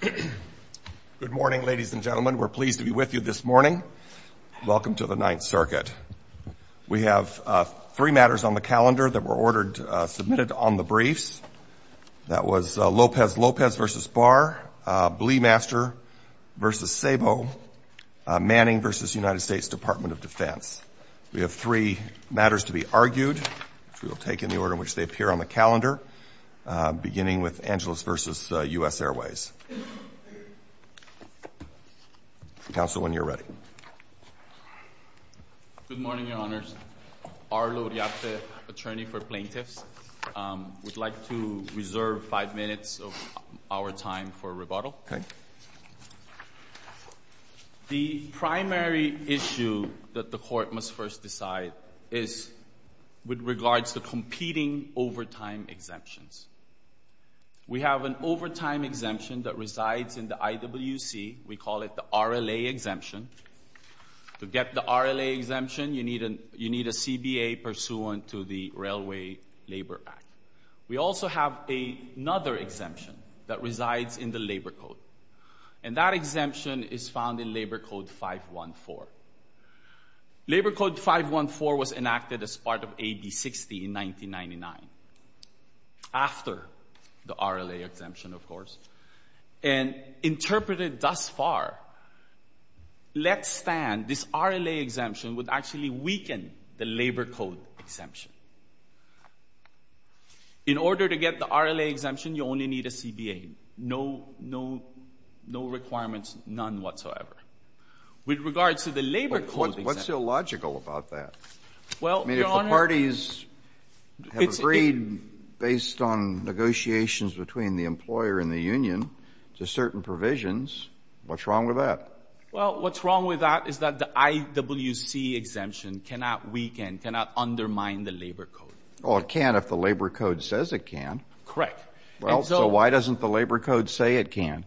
Good morning, ladies and gentlemen. We're pleased to be with you this morning. Welcome to the Ninth Circuit. We have three matters on the calendar that were ordered, submitted on the briefs. That was Lopez-Lopez v. Barr, Bleemaster v. Sabo, Manning v. United States Department of Defense. We have three matters to be argued, which we will take in the order in which they appear on the calendar, beginning with Angeles v. US Airways. Counsel, when you're ready. Good morning, Your Honors. Arlo Riazze, attorney for plaintiffs. We'd like to reserve five minutes of our time for rebuttal. Okay. The primary issue that the Court must first decide is with regards to competing overtime exemptions. We have an overtime exemption that resides in the IWC. We call it the RLA exemption. To get the RLA exemption, you need a CBA pursuant to the Railway Labor Act. We also have another exemption that resides in the Labor Code, and that exemption is found in Labor Code 514. Labor Code 514 was enacted as part of AB 60 in 1999, after the RLA exemption, of course, and interpreted thus far. Let's stand this RLA exemption would actually weaken the Labor Code exemption. In order to get the RLA exemption, you only need a CBA. No requirements, none whatsoever. With regards to the Labor Code exemption — Well, Your Honor — I mean, if the parties have agreed, based on negotiations between the employer and the union, to certain provisions, what's wrong with that? Well, what's wrong with that is that the IWC exemption cannot weaken, cannot undermine the Labor Code. Oh, it can if the Labor Code says it can. Correct. Well, so why doesn't the Labor Code say it can?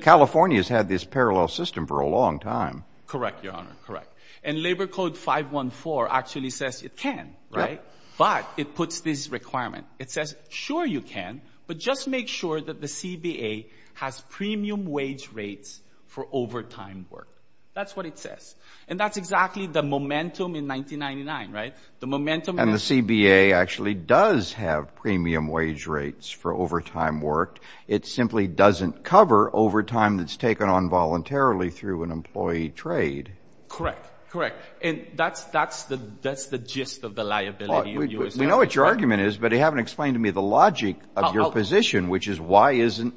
California has had this parallel system for a long time. Correct, Your Honor, correct. And Labor Code 514 actually says it can, right? Yeah. But it puts this requirement. It says, sure, you can, but just make sure that the CBA has premium wage rates for overtime work. That's what it says. And that's exactly the momentum in 1999, right? The momentum — And the CBA actually does have premium wage rates for overtime work. It simply doesn't cover overtime that's taken on voluntarily through an employee trade. Correct, correct. And that's the gist of the liability. We know what your argument is, but you haven't explained to me the logic of your position, which is why isn't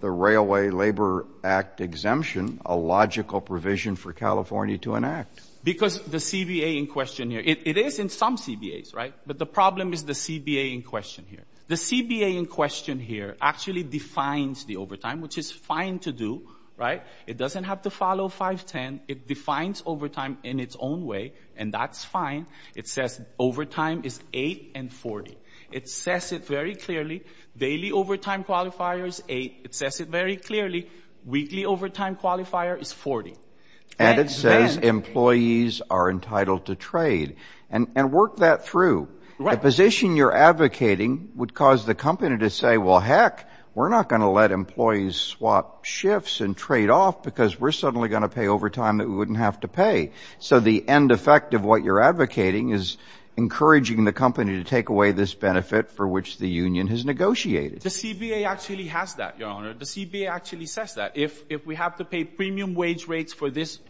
the Railway Labor Act exemption a logical provision for California to enact? Because the CBA in question here — it is in some CBAs, right? But the problem is the CBA in question here. The CBA in question here actually defines the overtime, which is fine to do, right? It doesn't have to follow 510. It defines overtime in its own way, and that's fine. It says overtime is 8 and 40. It says it very clearly. Daily overtime qualifier is 8. It says it very clearly. Weekly overtime qualifier is 40. And it says employees are entitled to trade. And work that through. The position you're advocating would cause the company to say, well, heck, we're not going to let employees swap shifts and trade off because we're suddenly going to pay overtime that we wouldn't have to pay. So the end effect of what you're advocating is encouraging the company to take away this benefit for which the union has negotiated. The CBA actually has that, Your Honor. The CBA actually says that. If we have to pay premium wage rates for this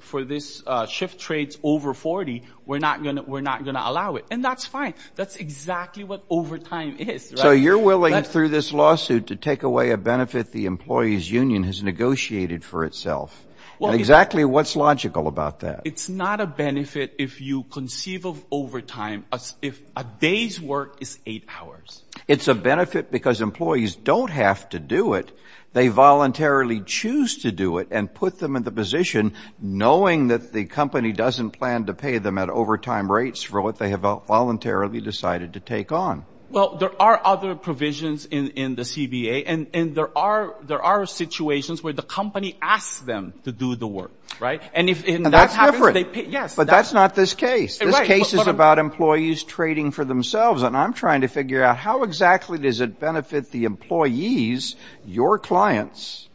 shift trade over 40, we're not going to allow it. And that's fine. That's exactly what overtime is. So you're willing, through this lawsuit, to take away a benefit the employees' union has negotiated for itself. And exactly what's logical about that? It's not a benefit if you conceive of overtime as if a day's work is 8 hours. It's a benefit because employees don't have to do it. They voluntarily choose to do it and put them in the position, knowing that the company doesn't plan to pay them at overtime rates for what they have voluntarily decided to take on. Well, there are other provisions in the CBA. And there are situations where the company asks them to do the work, right? And that's different. But that's not this case. This case is about employees trading for themselves. And I'm trying to figure out how exactly does it benefit the employees, your clients,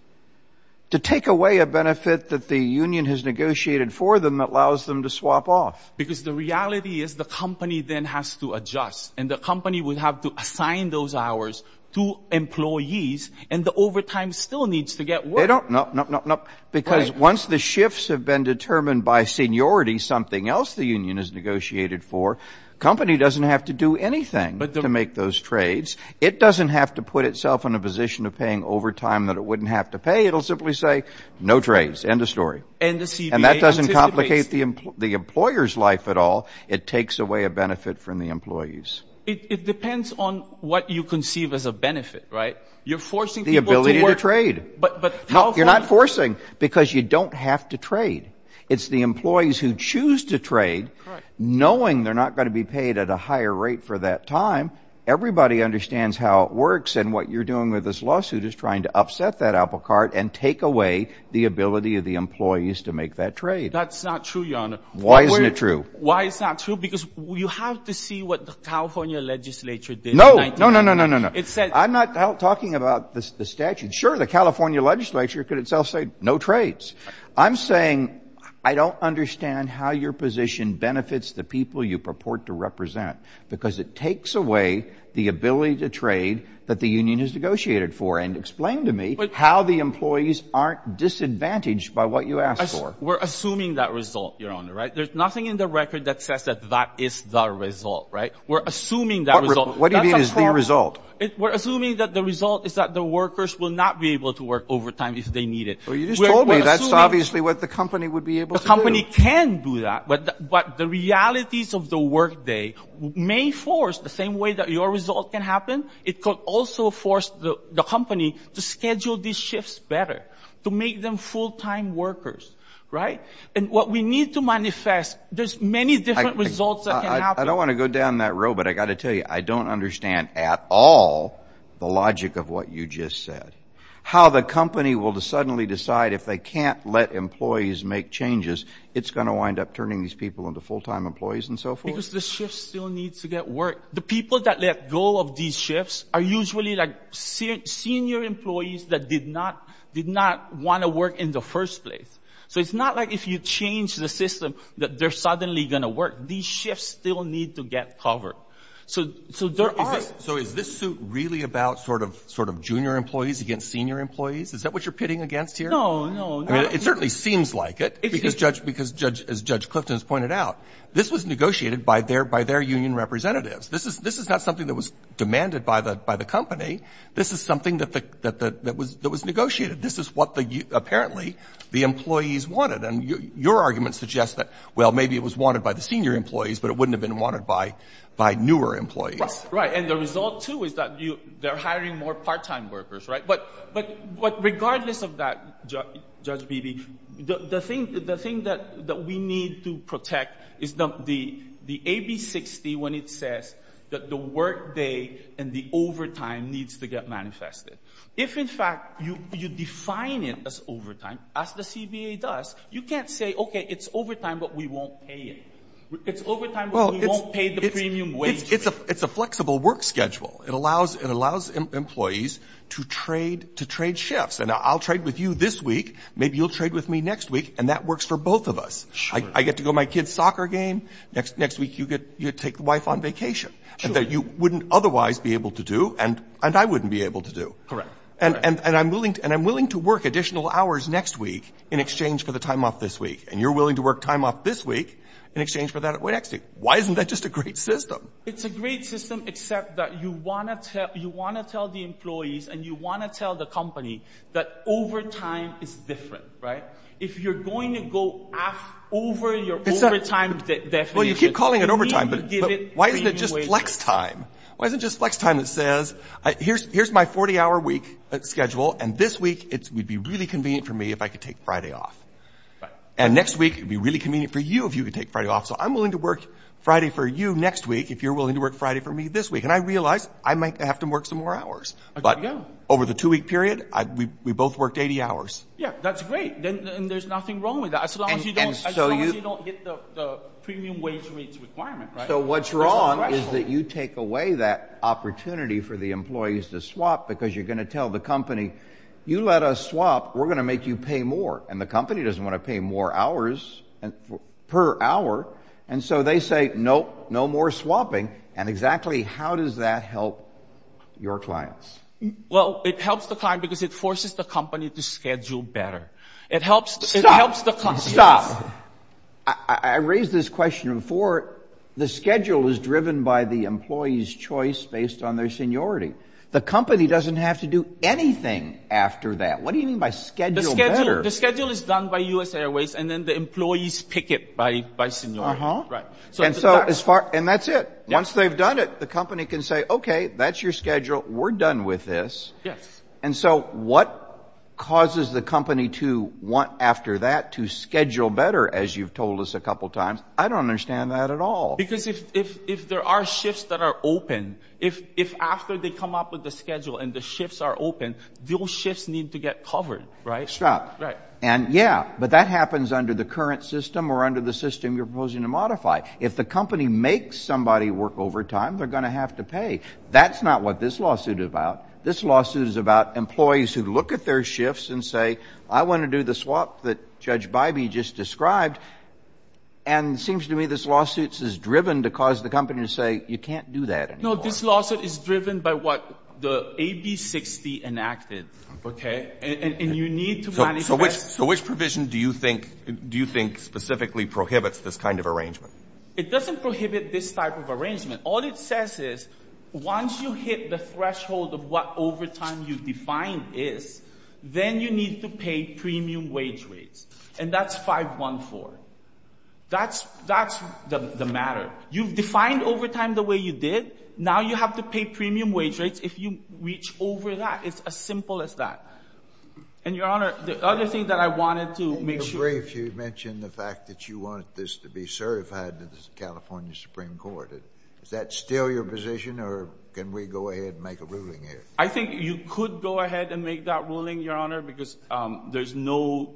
to take away a benefit that the union has negotiated for them that allows them to swap off. Because the reality is the company then has to adjust. And the company would have to assign those hours to employees. And the overtime still needs to get worked. No, no, no, no. Because once the shifts have been determined by seniority, something else the union has negotiated for, the company doesn't have to do anything to make those trades. It doesn't have to put itself in a position of paying overtime that it wouldn't have to pay. It will simply say, no trades. End of story. And the CBA anticipates. And that doesn't complicate the employer's life at all. It takes away a benefit from the employees. It depends on what you conceive as a benefit, right? You're forcing people to work. The ability to trade. You're not forcing because you don't have to trade. It's the employees who choose to trade knowing they're not going to be paid at a higher rate for that time. Everybody understands how it works and what you're doing with this lawsuit is trying to upset that apple cart and take away the ability of the employees to make that trade. That's not true, Your Honor. Why isn't it true? Why is that true? Because you have to see what the California legislature did. No. No, no, no, no, no, no. I'm not talking about the statute. Sure, the California legislature could itself say no trades. I'm saying I don't understand how your position benefits the people you purport to represent because it takes away the ability to trade that the union has negotiated for. And explain to me how the employees aren't disadvantaged by what you ask for. We're assuming that result, Your Honor, right? There's nothing in the record that says that that is the result, right? We're assuming that result. What do you mean is the result? We're assuming that the result is that the workers will not be able to work overtime if they need it. Well, you just told me that's obviously what the company would be able to do. The company can do that, but the realities of the workday may force the same way that your result can happen, it could also force the company to schedule these shifts better, to make them full-time workers, right? And what we need to manifest, there's many different results that can happen. I don't want to go down that road, but I've got to tell you, I don't understand at all the logic of what you just said, how the company will suddenly decide if they can't let employees make changes, it's going to wind up turning these people into full-time employees and so forth? Because the shift still needs to get work. The people that let go of these shifts are usually like senior employees that did not want to work in the first place. So it's not like if you change the system that they're suddenly going to work. These shifts still need to get covered. So there are – So is this suit really about sort of junior employees against senior employees? Is that what you're pitting against here? No, no. I mean, it certainly seems like it because, as Judge Clifton has pointed out, this was negotiated by their union representatives. This is not something that was demanded by the company. This is something that was negotiated. This is what apparently the employees wanted. And your argument suggests that, well, maybe it was wanted by the senior employees, but it wouldn't have been wanted by newer employees. Right. And the result, too, is that they're hiring more part-time workers, right? But regardless of that, Judge Beebe, the thing that we need to protect is the AB60 when it says that the workday and the overtime needs to get manifested. If, in fact, you define it as overtime, as the CBA does, you can't say, okay, it's overtime, but we won't pay it. It's overtime, but we won't pay the premium wage. It's a flexible work schedule. It allows employees to trade shifts. And I'll trade with you this week. Maybe you'll trade with me next week. And that works for both of us. Sure. I get to go to my kid's soccer game. Next week, you take the wife on vacation that you wouldn't otherwise be able to do and I wouldn't be able to do. Correct. And I'm willing to work additional hours next week in exchange for the time off this week. And you're willing to work time off this week in exchange for that next week. Why isn't that just a great system? It's a great system, except that you want to tell the employees and you want to tell the company that overtime is different, right? If you're going to go over your overtime definition, you need to give it premium wages. Well, you keep calling it overtime, but why isn't it just flex time? Why isn't it just flex time that says, here's my 40-hour week schedule, and this week, it would be really convenient for me if I could take Friday off. And next week, it would be really convenient for you if you could take Friday off. So I'm willing to work Friday for you next week if you're willing to work Friday for me this week. And I realize I might have to work some more hours. But over the two-week period, we both worked 80 hours. Yeah, that's great. And there's nothing wrong with that as long as you don't hit the premium wage requirement. So what's wrong is that you take away that opportunity for the employees to swap because you're going to tell the company, you let us swap. We're going to make you pay more. And the company doesn't want to pay more hours per hour. And so they say, nope, no more swapping. And exactly how does that help your clients? Well, it helps the client because it forces the company to schedule better. Stop. Stop. I raised this question before. The schedule is driven by the employee's choice based on their seniority. The company doesn't have to do anything after that. What do you mean by schedule better? The schedule is done by U.S. Airways, and then the employees pick it by seniority. And that's it. Once they've done it, the company can say, okay, that's your schedule. We're done with this. Yes. And so what causes the company to want after that to schedule better, as you've told us a couple times? I don't understand that at all. Because if there are shifts that are open, if after they come up with the schedule and the shifts are open, those shifts need to get covered, right? Stop. And, yeah, but that happens under the current system or under the system you're proposing to modify. If the company makes somebody work overtime, they're going to have to pay. That's not what this lawsuit is about. This lawsuit is about employees who look at their shifts and say, I want to do the swap that Judge Bybee just described. And it seems to me this lawsuit is driven to cause the company to say, you can't do that anymore. No, this lawsuit is driven by what the AB60 enacted, okay? And you need to manage that. So which provision do you think specifically prohibits this kind of arrangement? It doesn't prohibit this type of arrangement. All it says is once you hit the threshold of what overtime you've defined is, then you need to pay premium wage rates. And that's 514. That's the matter. You've defined overtime the way you did. Now you have to pay premium wage rates if you reach over that. It's as simple as that. And, Your Honor, the other thing that I wanted to make sure. In the brief, you mentioned the fact that you want this to be certified to the California Supreme Court. Is that still your position, or can we go ahead and make a ruling here? I think you could go ahead and make that ruling, Your Honor, because there's no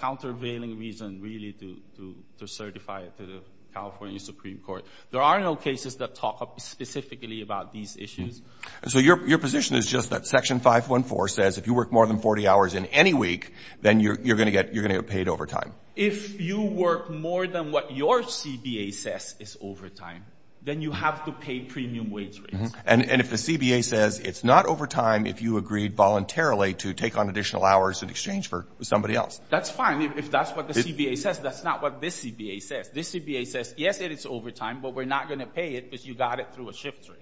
countervailing reason, really, to certify it to the California Supreme Court. There are no cases that talk specifically about these issues. So your position is just that Section 514 says if you work more than 40 hours in any week, then you're going to get paid overtime. If you work more than what your CBA says is overtime, then you have to pay premium wage rates. And if the CBA says it's not overtime if you agreed voluntarily to take on additional hours in exchange for somebody else? That's fine. If that's what the CBA says, that's not what this CBA says. This CBA says, yes, it is overtime, but we're not going to pay it because you got it through a shift rate.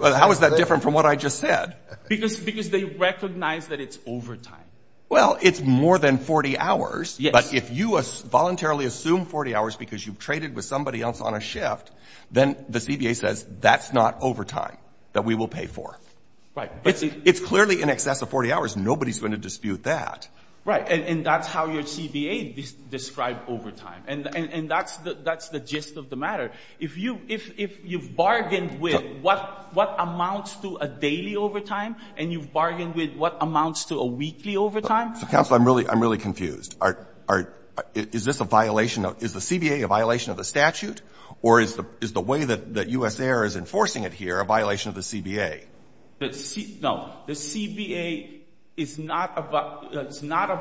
How is that different from what I just said? Because they recognize that it's overtime. Well, it's more than 40 hours, but if you voluntarily assume 40 hours because you've traded with somebody else on a shift, then the CBA says that's not overtime that we will pay for. Right. It's clearly in excess of 40 hours. Nobody's going to dispute that. Right. And that's how your CBA described overtime. And that's the gist of the matter. If you've bargained with what amounts to a daily overtime and you've bargained with what amounts to a weekly overtime. Counsel, I'm really confused. Is this a violation of the CBA, a violation of the statute, or is the way that U.S. Air is enforcing it here a violation of the CBA? No. The CBA is not a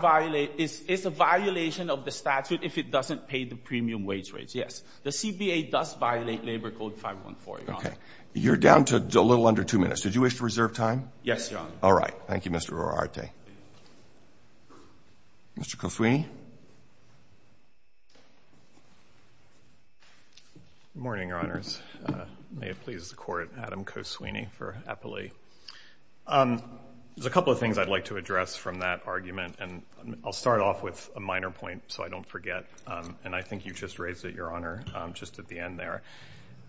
violation of the statute if it doesn't pay the premium wage rates. Yes. The CBA does violate Labor Code 514. Okay. You're down to a little under two minutes. Did you wish to reserve time? Yes, Your Honor. All right. Thank you, Mr. Oroarte. Mr. Koswini. Good morning, Your Honors. May it please the Court, Adam Koswini for Eppley. There's a couple of things I'd like to address from that argument, and I'll start off with a minor point so I don't forget, and I think you just raised it, Your Honor, just at the end there.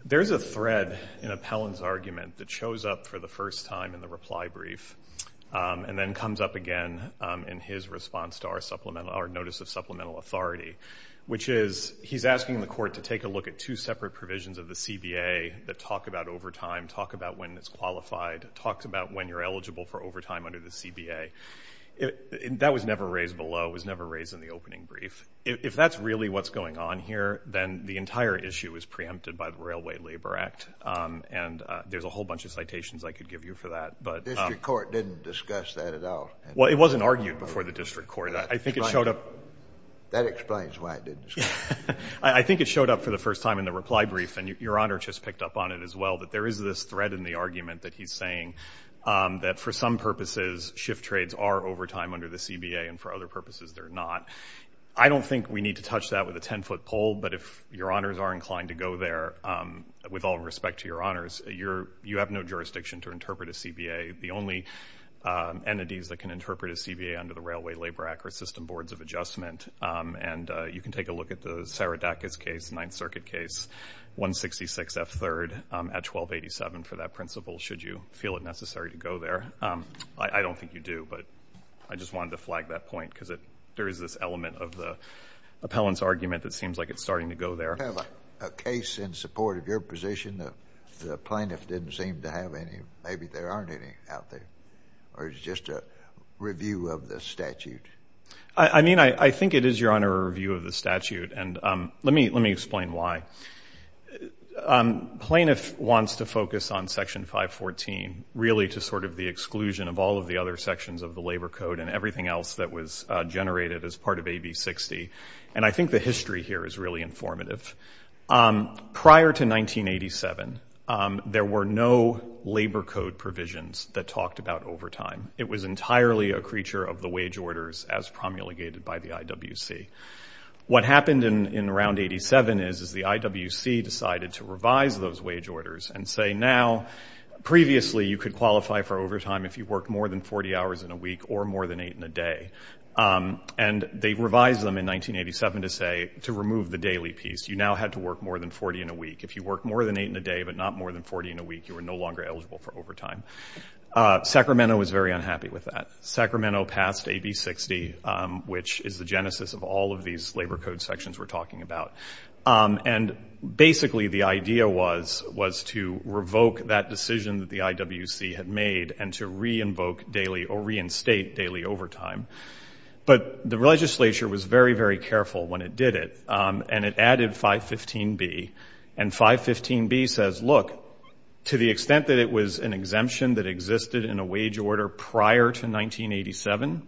There's a thread in Appellant's argument that shows up for the first time in the reply brief and then comes up again in his response to our notice of supplemental authority, which is he's asking the Court to take a look at two separate provisions of the CBA that talk about overtime, talk about when it's qualified, talk about when you're eligible for overtime under the CBA. That was never raised below. It was never raised in the opening brief. If that's really what's going on here, then the entire issue is preempted by the Railway Labor Act, and there's a whole bunch of citations I could give you for that. The district court didn't discuss that at all. Well, it wasn't argued before the district court. I think it showed up. That explains why it didn't discuss it. I think it showed up for the first time in the reply brief, and Your Honor just picked up on it as well, that there is this thread in the argument that he's saying that for some purposes, shift trades are overtime under the CBA, and for other purposes they're not. I don't think we need to touch that with a ten-foot pole, but if Your Honors are inclined to go there, with all respect to Your Honors, you have no jurisdiction to interpret a CBA. The only entities that can interpret a CBA under the Railway Labor Act are system boards of adjustment, and you can take a look at the Saridakis case, the Ninth Circuit case, 166F3 at 1287 for that principle, should you feel it necessary to go there. I don't think you do, but I just wanted to flag that point because there is this element of the appellant's argument that seems like it's starting to go there. You have a case in support of your position. The plaintiff didn't seem to have any. Maybe there aren't any out there, or is it just a review of the statute? I mean, I think it is, Your Honor, a review of the statute, and let me explain why. Plaintiff wants to focus on Section 514, really to sort of the exclusion of all of the other sections of the Labor Code and everything else that was generated as part of AB60, and I think the history here is really informative. Prior to 1987, there were no Labor Code provisions that talked about overtime. It was entirely a creature of the wage orders as promulgated by the IWC. What happened in Round 87 is the IWC decided to revise those wage orders and say now previously you could qualify for overtime if you worked more than 40 hours in a week or more than eight in a day, and they revised them in 1987 to say to remove the daily piece. You now had to work more than 40 in a week. If you worked more than eight in a day but not more than 40 in a week, you were no longer eligible for overtime. Sacramento was very unhappy with that. Sacramento passed AB60, which is the genesis of all of these Labor Code sections we're talking about, and basically the idea was to revoke that decision that the IWC had made and to reinstate daily overtime. But the legislature was very, very careful when it did it, and it added 515B, and 515B says, look, to the extent that it was an exemption that existed in a wage order prior to 1987,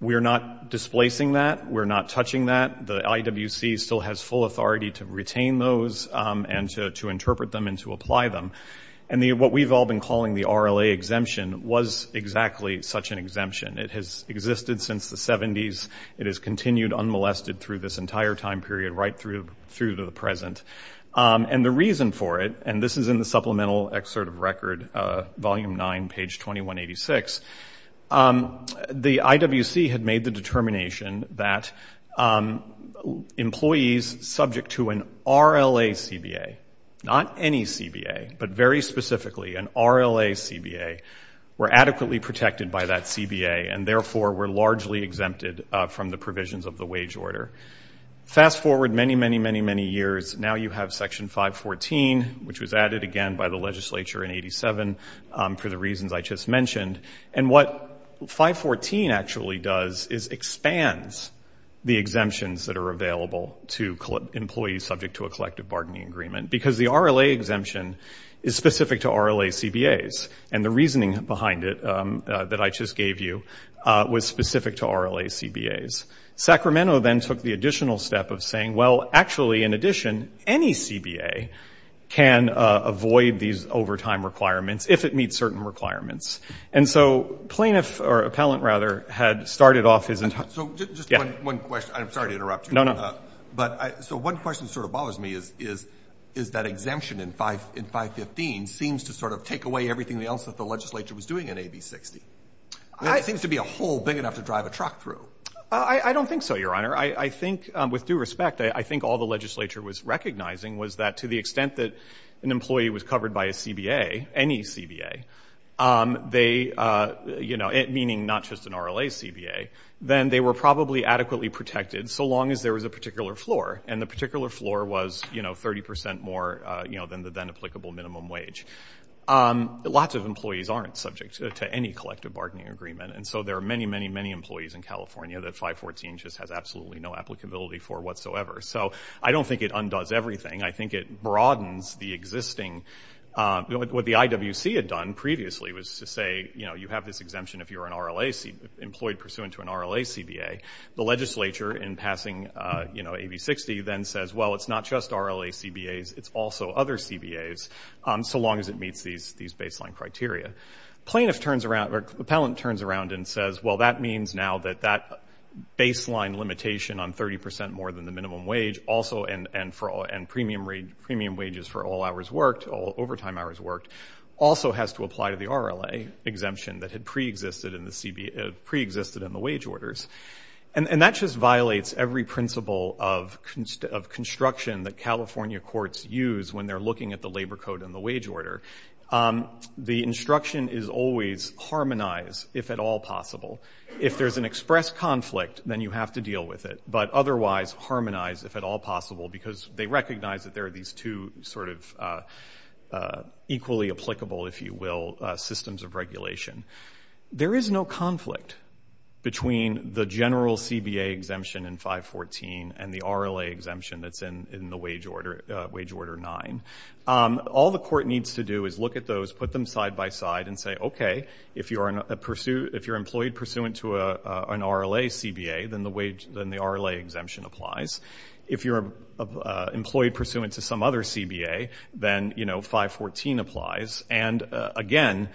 we're not displacing that. We're not touching that. The IWC still has full authority to retain those and to interpret them and to apply them. And what we've all been calling the RLA exemption was exactly such an exemption. It has existed since the 70s. It has continued unmolested through this entire time period right through to the present. And the reason for it, and this is in the supplemental excerpt of record, Volume 9, page 2186, the IWC had made the determination that employees subject to an RLA CBA, not any CBA, but very specifically an RLA CBA, were adequately protected by that CBA and therefore were largely exempted from the provisions of the wage order. Fast forward many, many, many, many years. Now you have Section 514, which was added again by the legislature in 1987 for the reasons I just mentioned. And what 514 actually does is expands the exemptions that are available to employees who are subject to a collective bargaining agreement because the RLA exemption is specific to RLA CBAs. And the reasoning behind it that I just gave you was specific to RLA CBAs. Sacramento then took the additional step of saying, well, actually, in addition, any CBA can avoid these overtime requirements if it meets certain requirements. And so plaintiff, or appellant rather, had started off his entire – So just one question. I'm sorry to interrupt you. No, no. So one question that sort of bothers me is that exemption in 515 seems to sort of take away everything else that the legislature was doing in AB 60. It seems to be a hole big enough to drive a truck through. I don't think so, Your Honor. I think, with due respect, I think all the legislature was recognizing was that to the extent that an employee was covered by a CBA, any CBA, meaning not just an RLA CBA, then they were probably adequately protected so long as there was a particular floor. And the particular floor was 30% more than the then-applicable minimum wage. Lots of employees aren't subject to any collective bargaining agreement. And so there are many, many, many employees in California that 514 just has absolutely no applicability for whatsoever. So I don't think it undoes everything. I think it broadens the existing – What the IWC had done previously was to say, you know, you have this exemption if you're an employee pursuant to an RLA CBA. The legislature, in passing, you know, AB 60, then says, well, it's not just RLA CBAs. It's also other CBAs so long as it meets these baseline criteria. Plaintiff turns around – or appellant turns around and says, well, that means now that that baseline limitation on 30% more than the minimum wage also – and premium wages for all hours worked, all overtime hours worked, also has to apply to the RLA exemption that had preexisted in the wage orders. And that just violates every principle of construction that California courts use when they're looking at the labor code and the wage order. The instruction is always harmonize, if at all possible. If there's an express conflict, then you have to deal with it. But otherwise, harmonize, if at all possible, because they recognize that there are these two sort of equally applicable, if you will, systems of regulation. There is no conflict between the general CBA exemption in 514 and the RLA exemption that's in the wage order 9. All the court needs to do is look at those, put them side by side, and say, okay, if you're employed pursuant to an RLA CBA, then the RLA exemption applies. If you're employed pursuant to some other CBA, then, you know, 514 applies. And, again,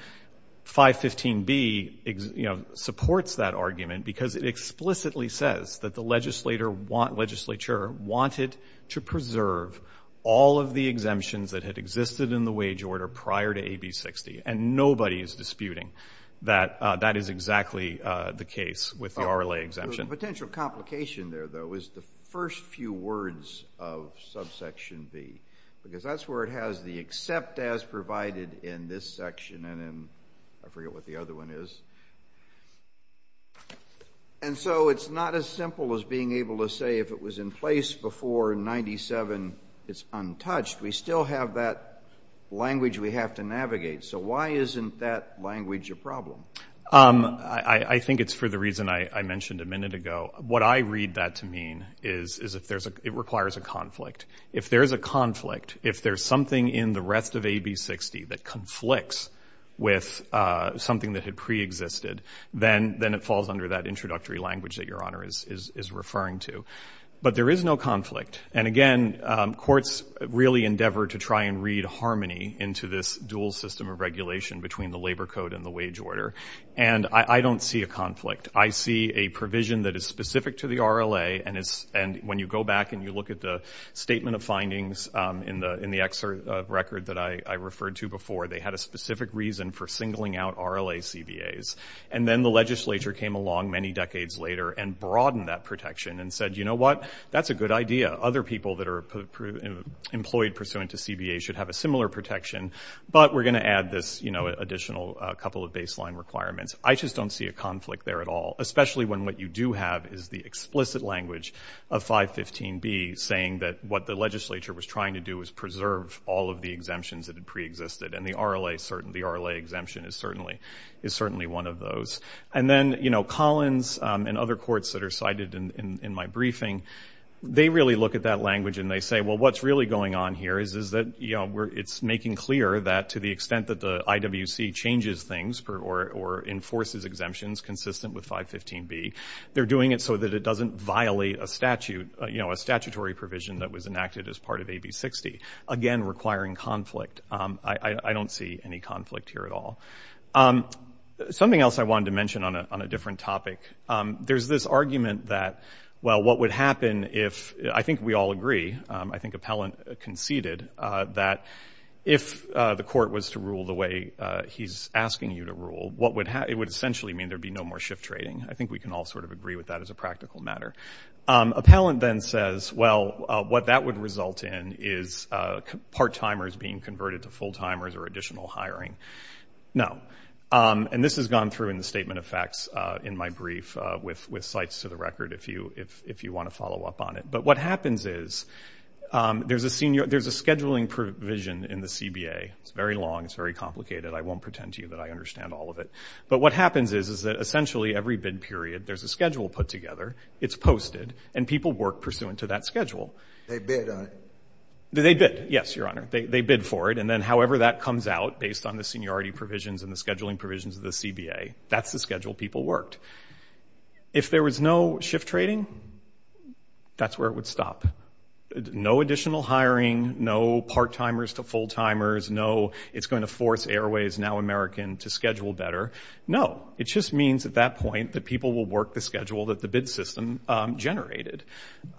515B, you know, supports that argument because it explicitly says that the legislature wanted to preserve all of the exemptions that had existed in the wage order prior to AB 60. And nobody is disputing that that is exactly the case with the RLA exemption. The potential complication there, though, is the first few words of subsection B, because that's where it has the except as provided in this section, and then I forget what the other one is. And so it's not as simple as being able to say if it was in place before 97, it's untouched. We still have that language we have to navigate. So why isn't that language a problem? I think it's for the reason I mentioned a minute ago. What I read that to mean is it requires a conflict. If there's a conflict, if there's something in the rest of AB 60 that conflicts with something that had preexisted, then it falls under that introductory language that Your Honor is referring to. But there is no conflict. And, again, courts really endeavor to try and read harmony into this dual system of regulation between the labor code and the wage order. And I don't see a conflict. I see a provision that is specific to the RLA, and when you go back and you look at the statement of findings in the record that I referred to before, they had a specific reason for singling out RLA CBAs. And then the legislature came along many decades later and broadened that protection and said, you know what, that's a good idea. Other people that are employed pursuant to CBA should have a similar protection, but we're going to add this additional couple of baseline requirements. I just don't see a conflict there at all, especially when what you do have is the explicit language of 515B saying that what the legislature was trying to do was preserve all of the exemptions that had preexisted. And the RLA exemption is certainly one of those. And then, you know, Collins and other courts that are cited in my briefing, they really look at that language and they say, well, what's really going on here is that, you know, it's making clear that to the extent that the IWC changes things or enforces exemptions consistent with 515B, they're doing it so that it doesn't violate a statute, you know, a statutory provision that was enacted as part of AB60, again requiring conflict. I don't see any conflict here at all. Something else I wanted to mention on a different topic. There's this argument that, well, what would happen if, I think we all agree, I think Appellant conceded that if the court was to rule the way he's asking you to rule, it would essentially mean there would be no more shift trading. I think we can all sort of agree with that as a practical matter. Appellant then says, well, what that would result in is part-timers being converted to full-timers or additional hiring. No. And this has gone through in the statement of facts in my brief with cites to the record if you want to follow up on it. But what happens is there's a scheduling provision in the CBA. It's very long. It's very complicated. I won't pretend to you that I understand all of it. But what happens is that essentially every bid period there's a schedule put together. It's posted. And people work pursuant to that schedule. They bid on it. They bid, yes, Your Honor. They bid for it. And then however that comes out based on the seniority provisions and the scheduling provisions of the CBA, that's the schedule people worked. If there was no shift trading, that's where it would stop. No additional hiring. No part-timers to full-timers. No it's going to force Airways, now American, to schedule better. No. It just means at that point that people will work the schedule that the bid system generated.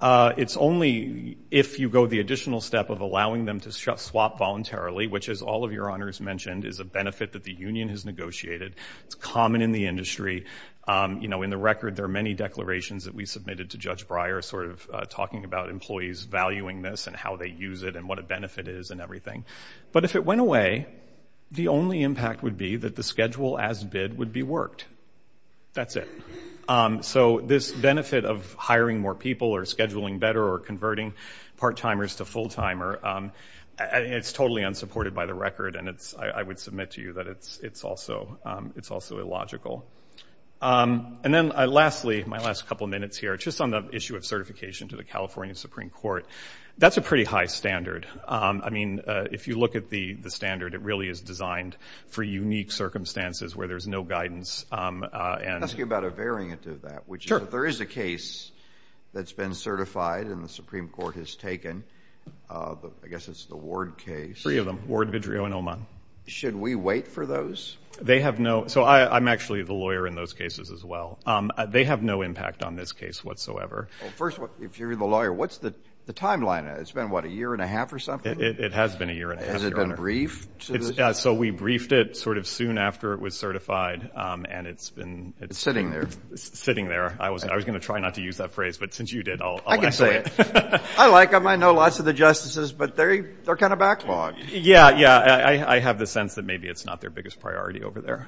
It's only if you go the additional step of allowing them to swap voluntarily, which, as all of Your Honors mentioned, is a benefit that the union has negotiated. It's common in the industry. You know, in the record there are many declarations that we submitted to Judge Breyer sort of talking about employees valuing this and how they use it and what a benefit is and everything. But if it went away, the only impact would be that the schedule as bid would be worked. That's it. So this benefit of hiring more people or scheduling better or converting part-timers to full-timer, it's totally unsupported by the record, and I would submit to you that it's also illogical. And then lastly, my last couple of minutes here, just on the issue of certification to the California Supreme Court, that's a pretty high standard. I mean, if you look at the standard, it really is designed for unique circumstances where there's no guidance. I'll ask you about a variant of that, which is if there is a case that's been certified and the Supreme Court has taken, I guess it's the Ward case. Three of them, Ward, Vidrio, and Oman. Should we wait for those? They have no – so I'm actually the lawyer in those cases as well. They have no impact on this case whatsoever. Well, first, if you're the lawyer, what's the timeline? It's been, what, a year and a half or something? It has been a year and a half, Your Honor. Has it been briefed? So we briefed it sort of soon after it was certified, and it's been – It's sitting there. It's sitting there. I was going to try not to use that phrase, but since you did, I'll ask away. I like them. I know lots of the justices, but they're kind of backlogged. Yeah, yeah. I have the sense that maybe it's not their biggest priority over there.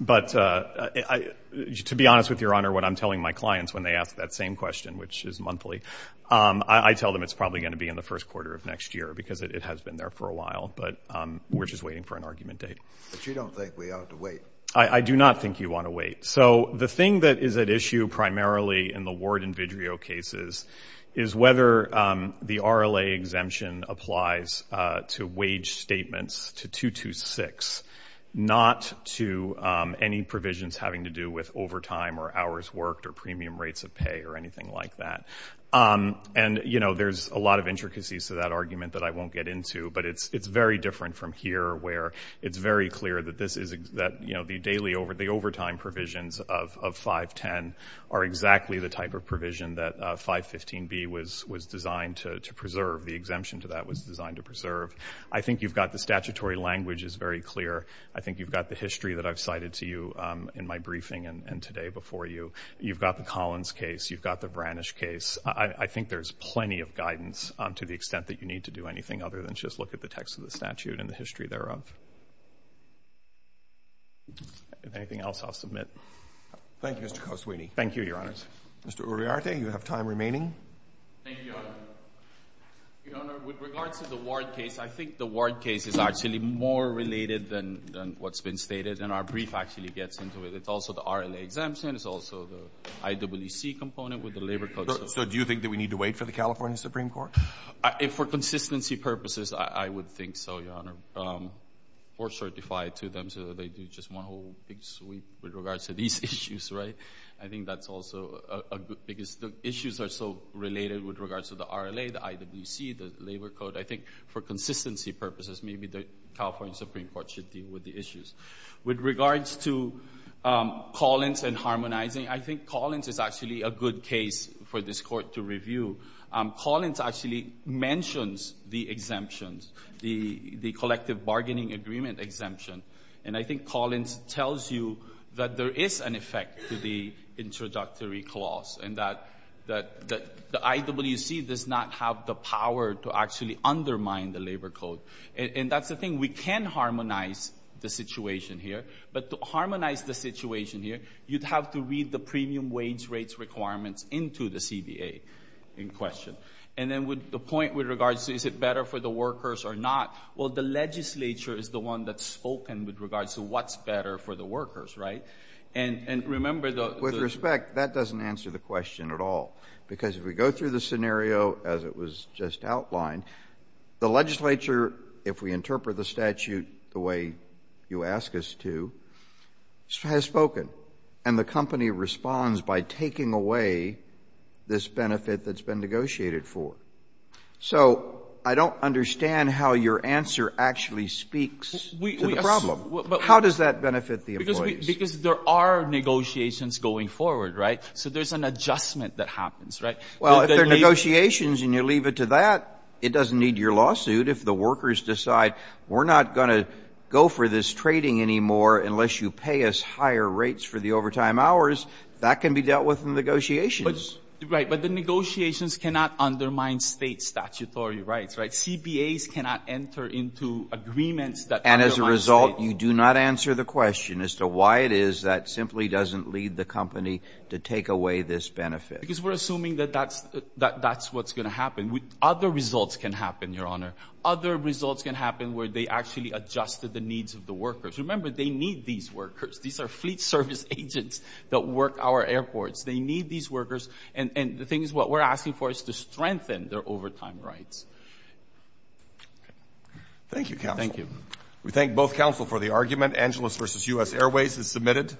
But to be honest with you, Your Honor, what I'm telling my clients when they ask that same question, which is monthly, I tell them it's probably going to be in the first quarter of next year because it has been there for a while, but we're just waiting for an argument date. But you don't think we ought to wait? I do not think you want to wait. So the thing that is at issue primarily in the Ward and Vidrio cases is whether the RLA exemption applies to wage statements, to 226, not to any provisions having to do with overtime or hours worked or premium rates of pay or anything like that. And, you know, there's a lot of intricacies to that argument that I won't get into, but it's very different from here where it's very clear that the overtime provisions of 510 are exactly the type of provision that 515B was designed to preserve. The exemption to that was designed to preserve. I think you've got the statutory language is very clear. I think you've got the history that I've cited to you in my briefing and today before you. You've got the Collins case. You've got the Branish case. I think there's plenty of guidance to the extent that you need to do anything other than just look at the text of the statute and the history thereof. If anything else, I'll submit. Thank you, Mr. Coswini. Thank you, Your Honors. Mr. Uriarte, you have time remaining. Thank you, Your Honor. Your Honor, with regard to the Ward case, I think the Ward case is actually more related than what's been stated, and our brief actually gets into it. It's also the RLA exemption. It's also the IWC component with the labor codes. So do you think that we need to wait for the California Supreme Court? For consistency purposes, I would think so, Your Honor, or certify to them so that they do just one whole big sweep with regards to these issues, right? I think that's also a good thing because the issues are so related with regards to the RLA, the IWC, the labor code. I think for consistency purposes, maybe the California Supreme Court should deal with the issues. With regards to Collins and harmonizing, I think Collins is actually a good case for this Court to review. Collins actually mentions the exemptions, the collective bargaining agreement exemption, and I think Collins tells you that there is an effect to the introductory clause and that the IWC does not have the power to actually undermine the labor code. And that's the thing. We can harmonize the situation here. But to harmonize the situation here, you'd have to read the premium wage rates requirements into the CBA in question. And then the point with regards to is it better for the workers or not, well, the legislature is the one that's spoken with regards to what's better for the workers, right? And remember the— With respect, that doesn't answer the question at all because if we go through the scenario as it was just outlined, the legislature, if we interpret the statute the way you ask us to, has spoken. And the company responds by taking away this benefit that's been negotiated for. So I don't understand how your answer actually speaks to the problem. How does that benefit the employees? Because there are negotiations going forward, right? So there's an adjustment that happens, right? Well, if there are negotiations and you leave it to that, it doesn't need your lawsuit. If the workers decide we're not going to go for this trading anymore unless you pay us higher rates for the overtime hours, that can be dealt with in negotiations. Right, but the negotiations cannot undermine state statutory rights, right? CBAs cannot enter into agreements that undermine state— And as a result, you do not answer the question as to why it is that simply doesn't lead the company to take away this benefit. Because we're assuming that that's what's going to happen. Other results can happen, Your Honor. Other results can happen where they actually adjusted the needs of the workers. Remember, they need these workers. These are fleet service agents that work our airports. They need these workers. And the thing is what we're asking for is to strengthen their overtime rights. Thank you, Counsel. Thank you. Angeles v. U.S. Airways is submitted.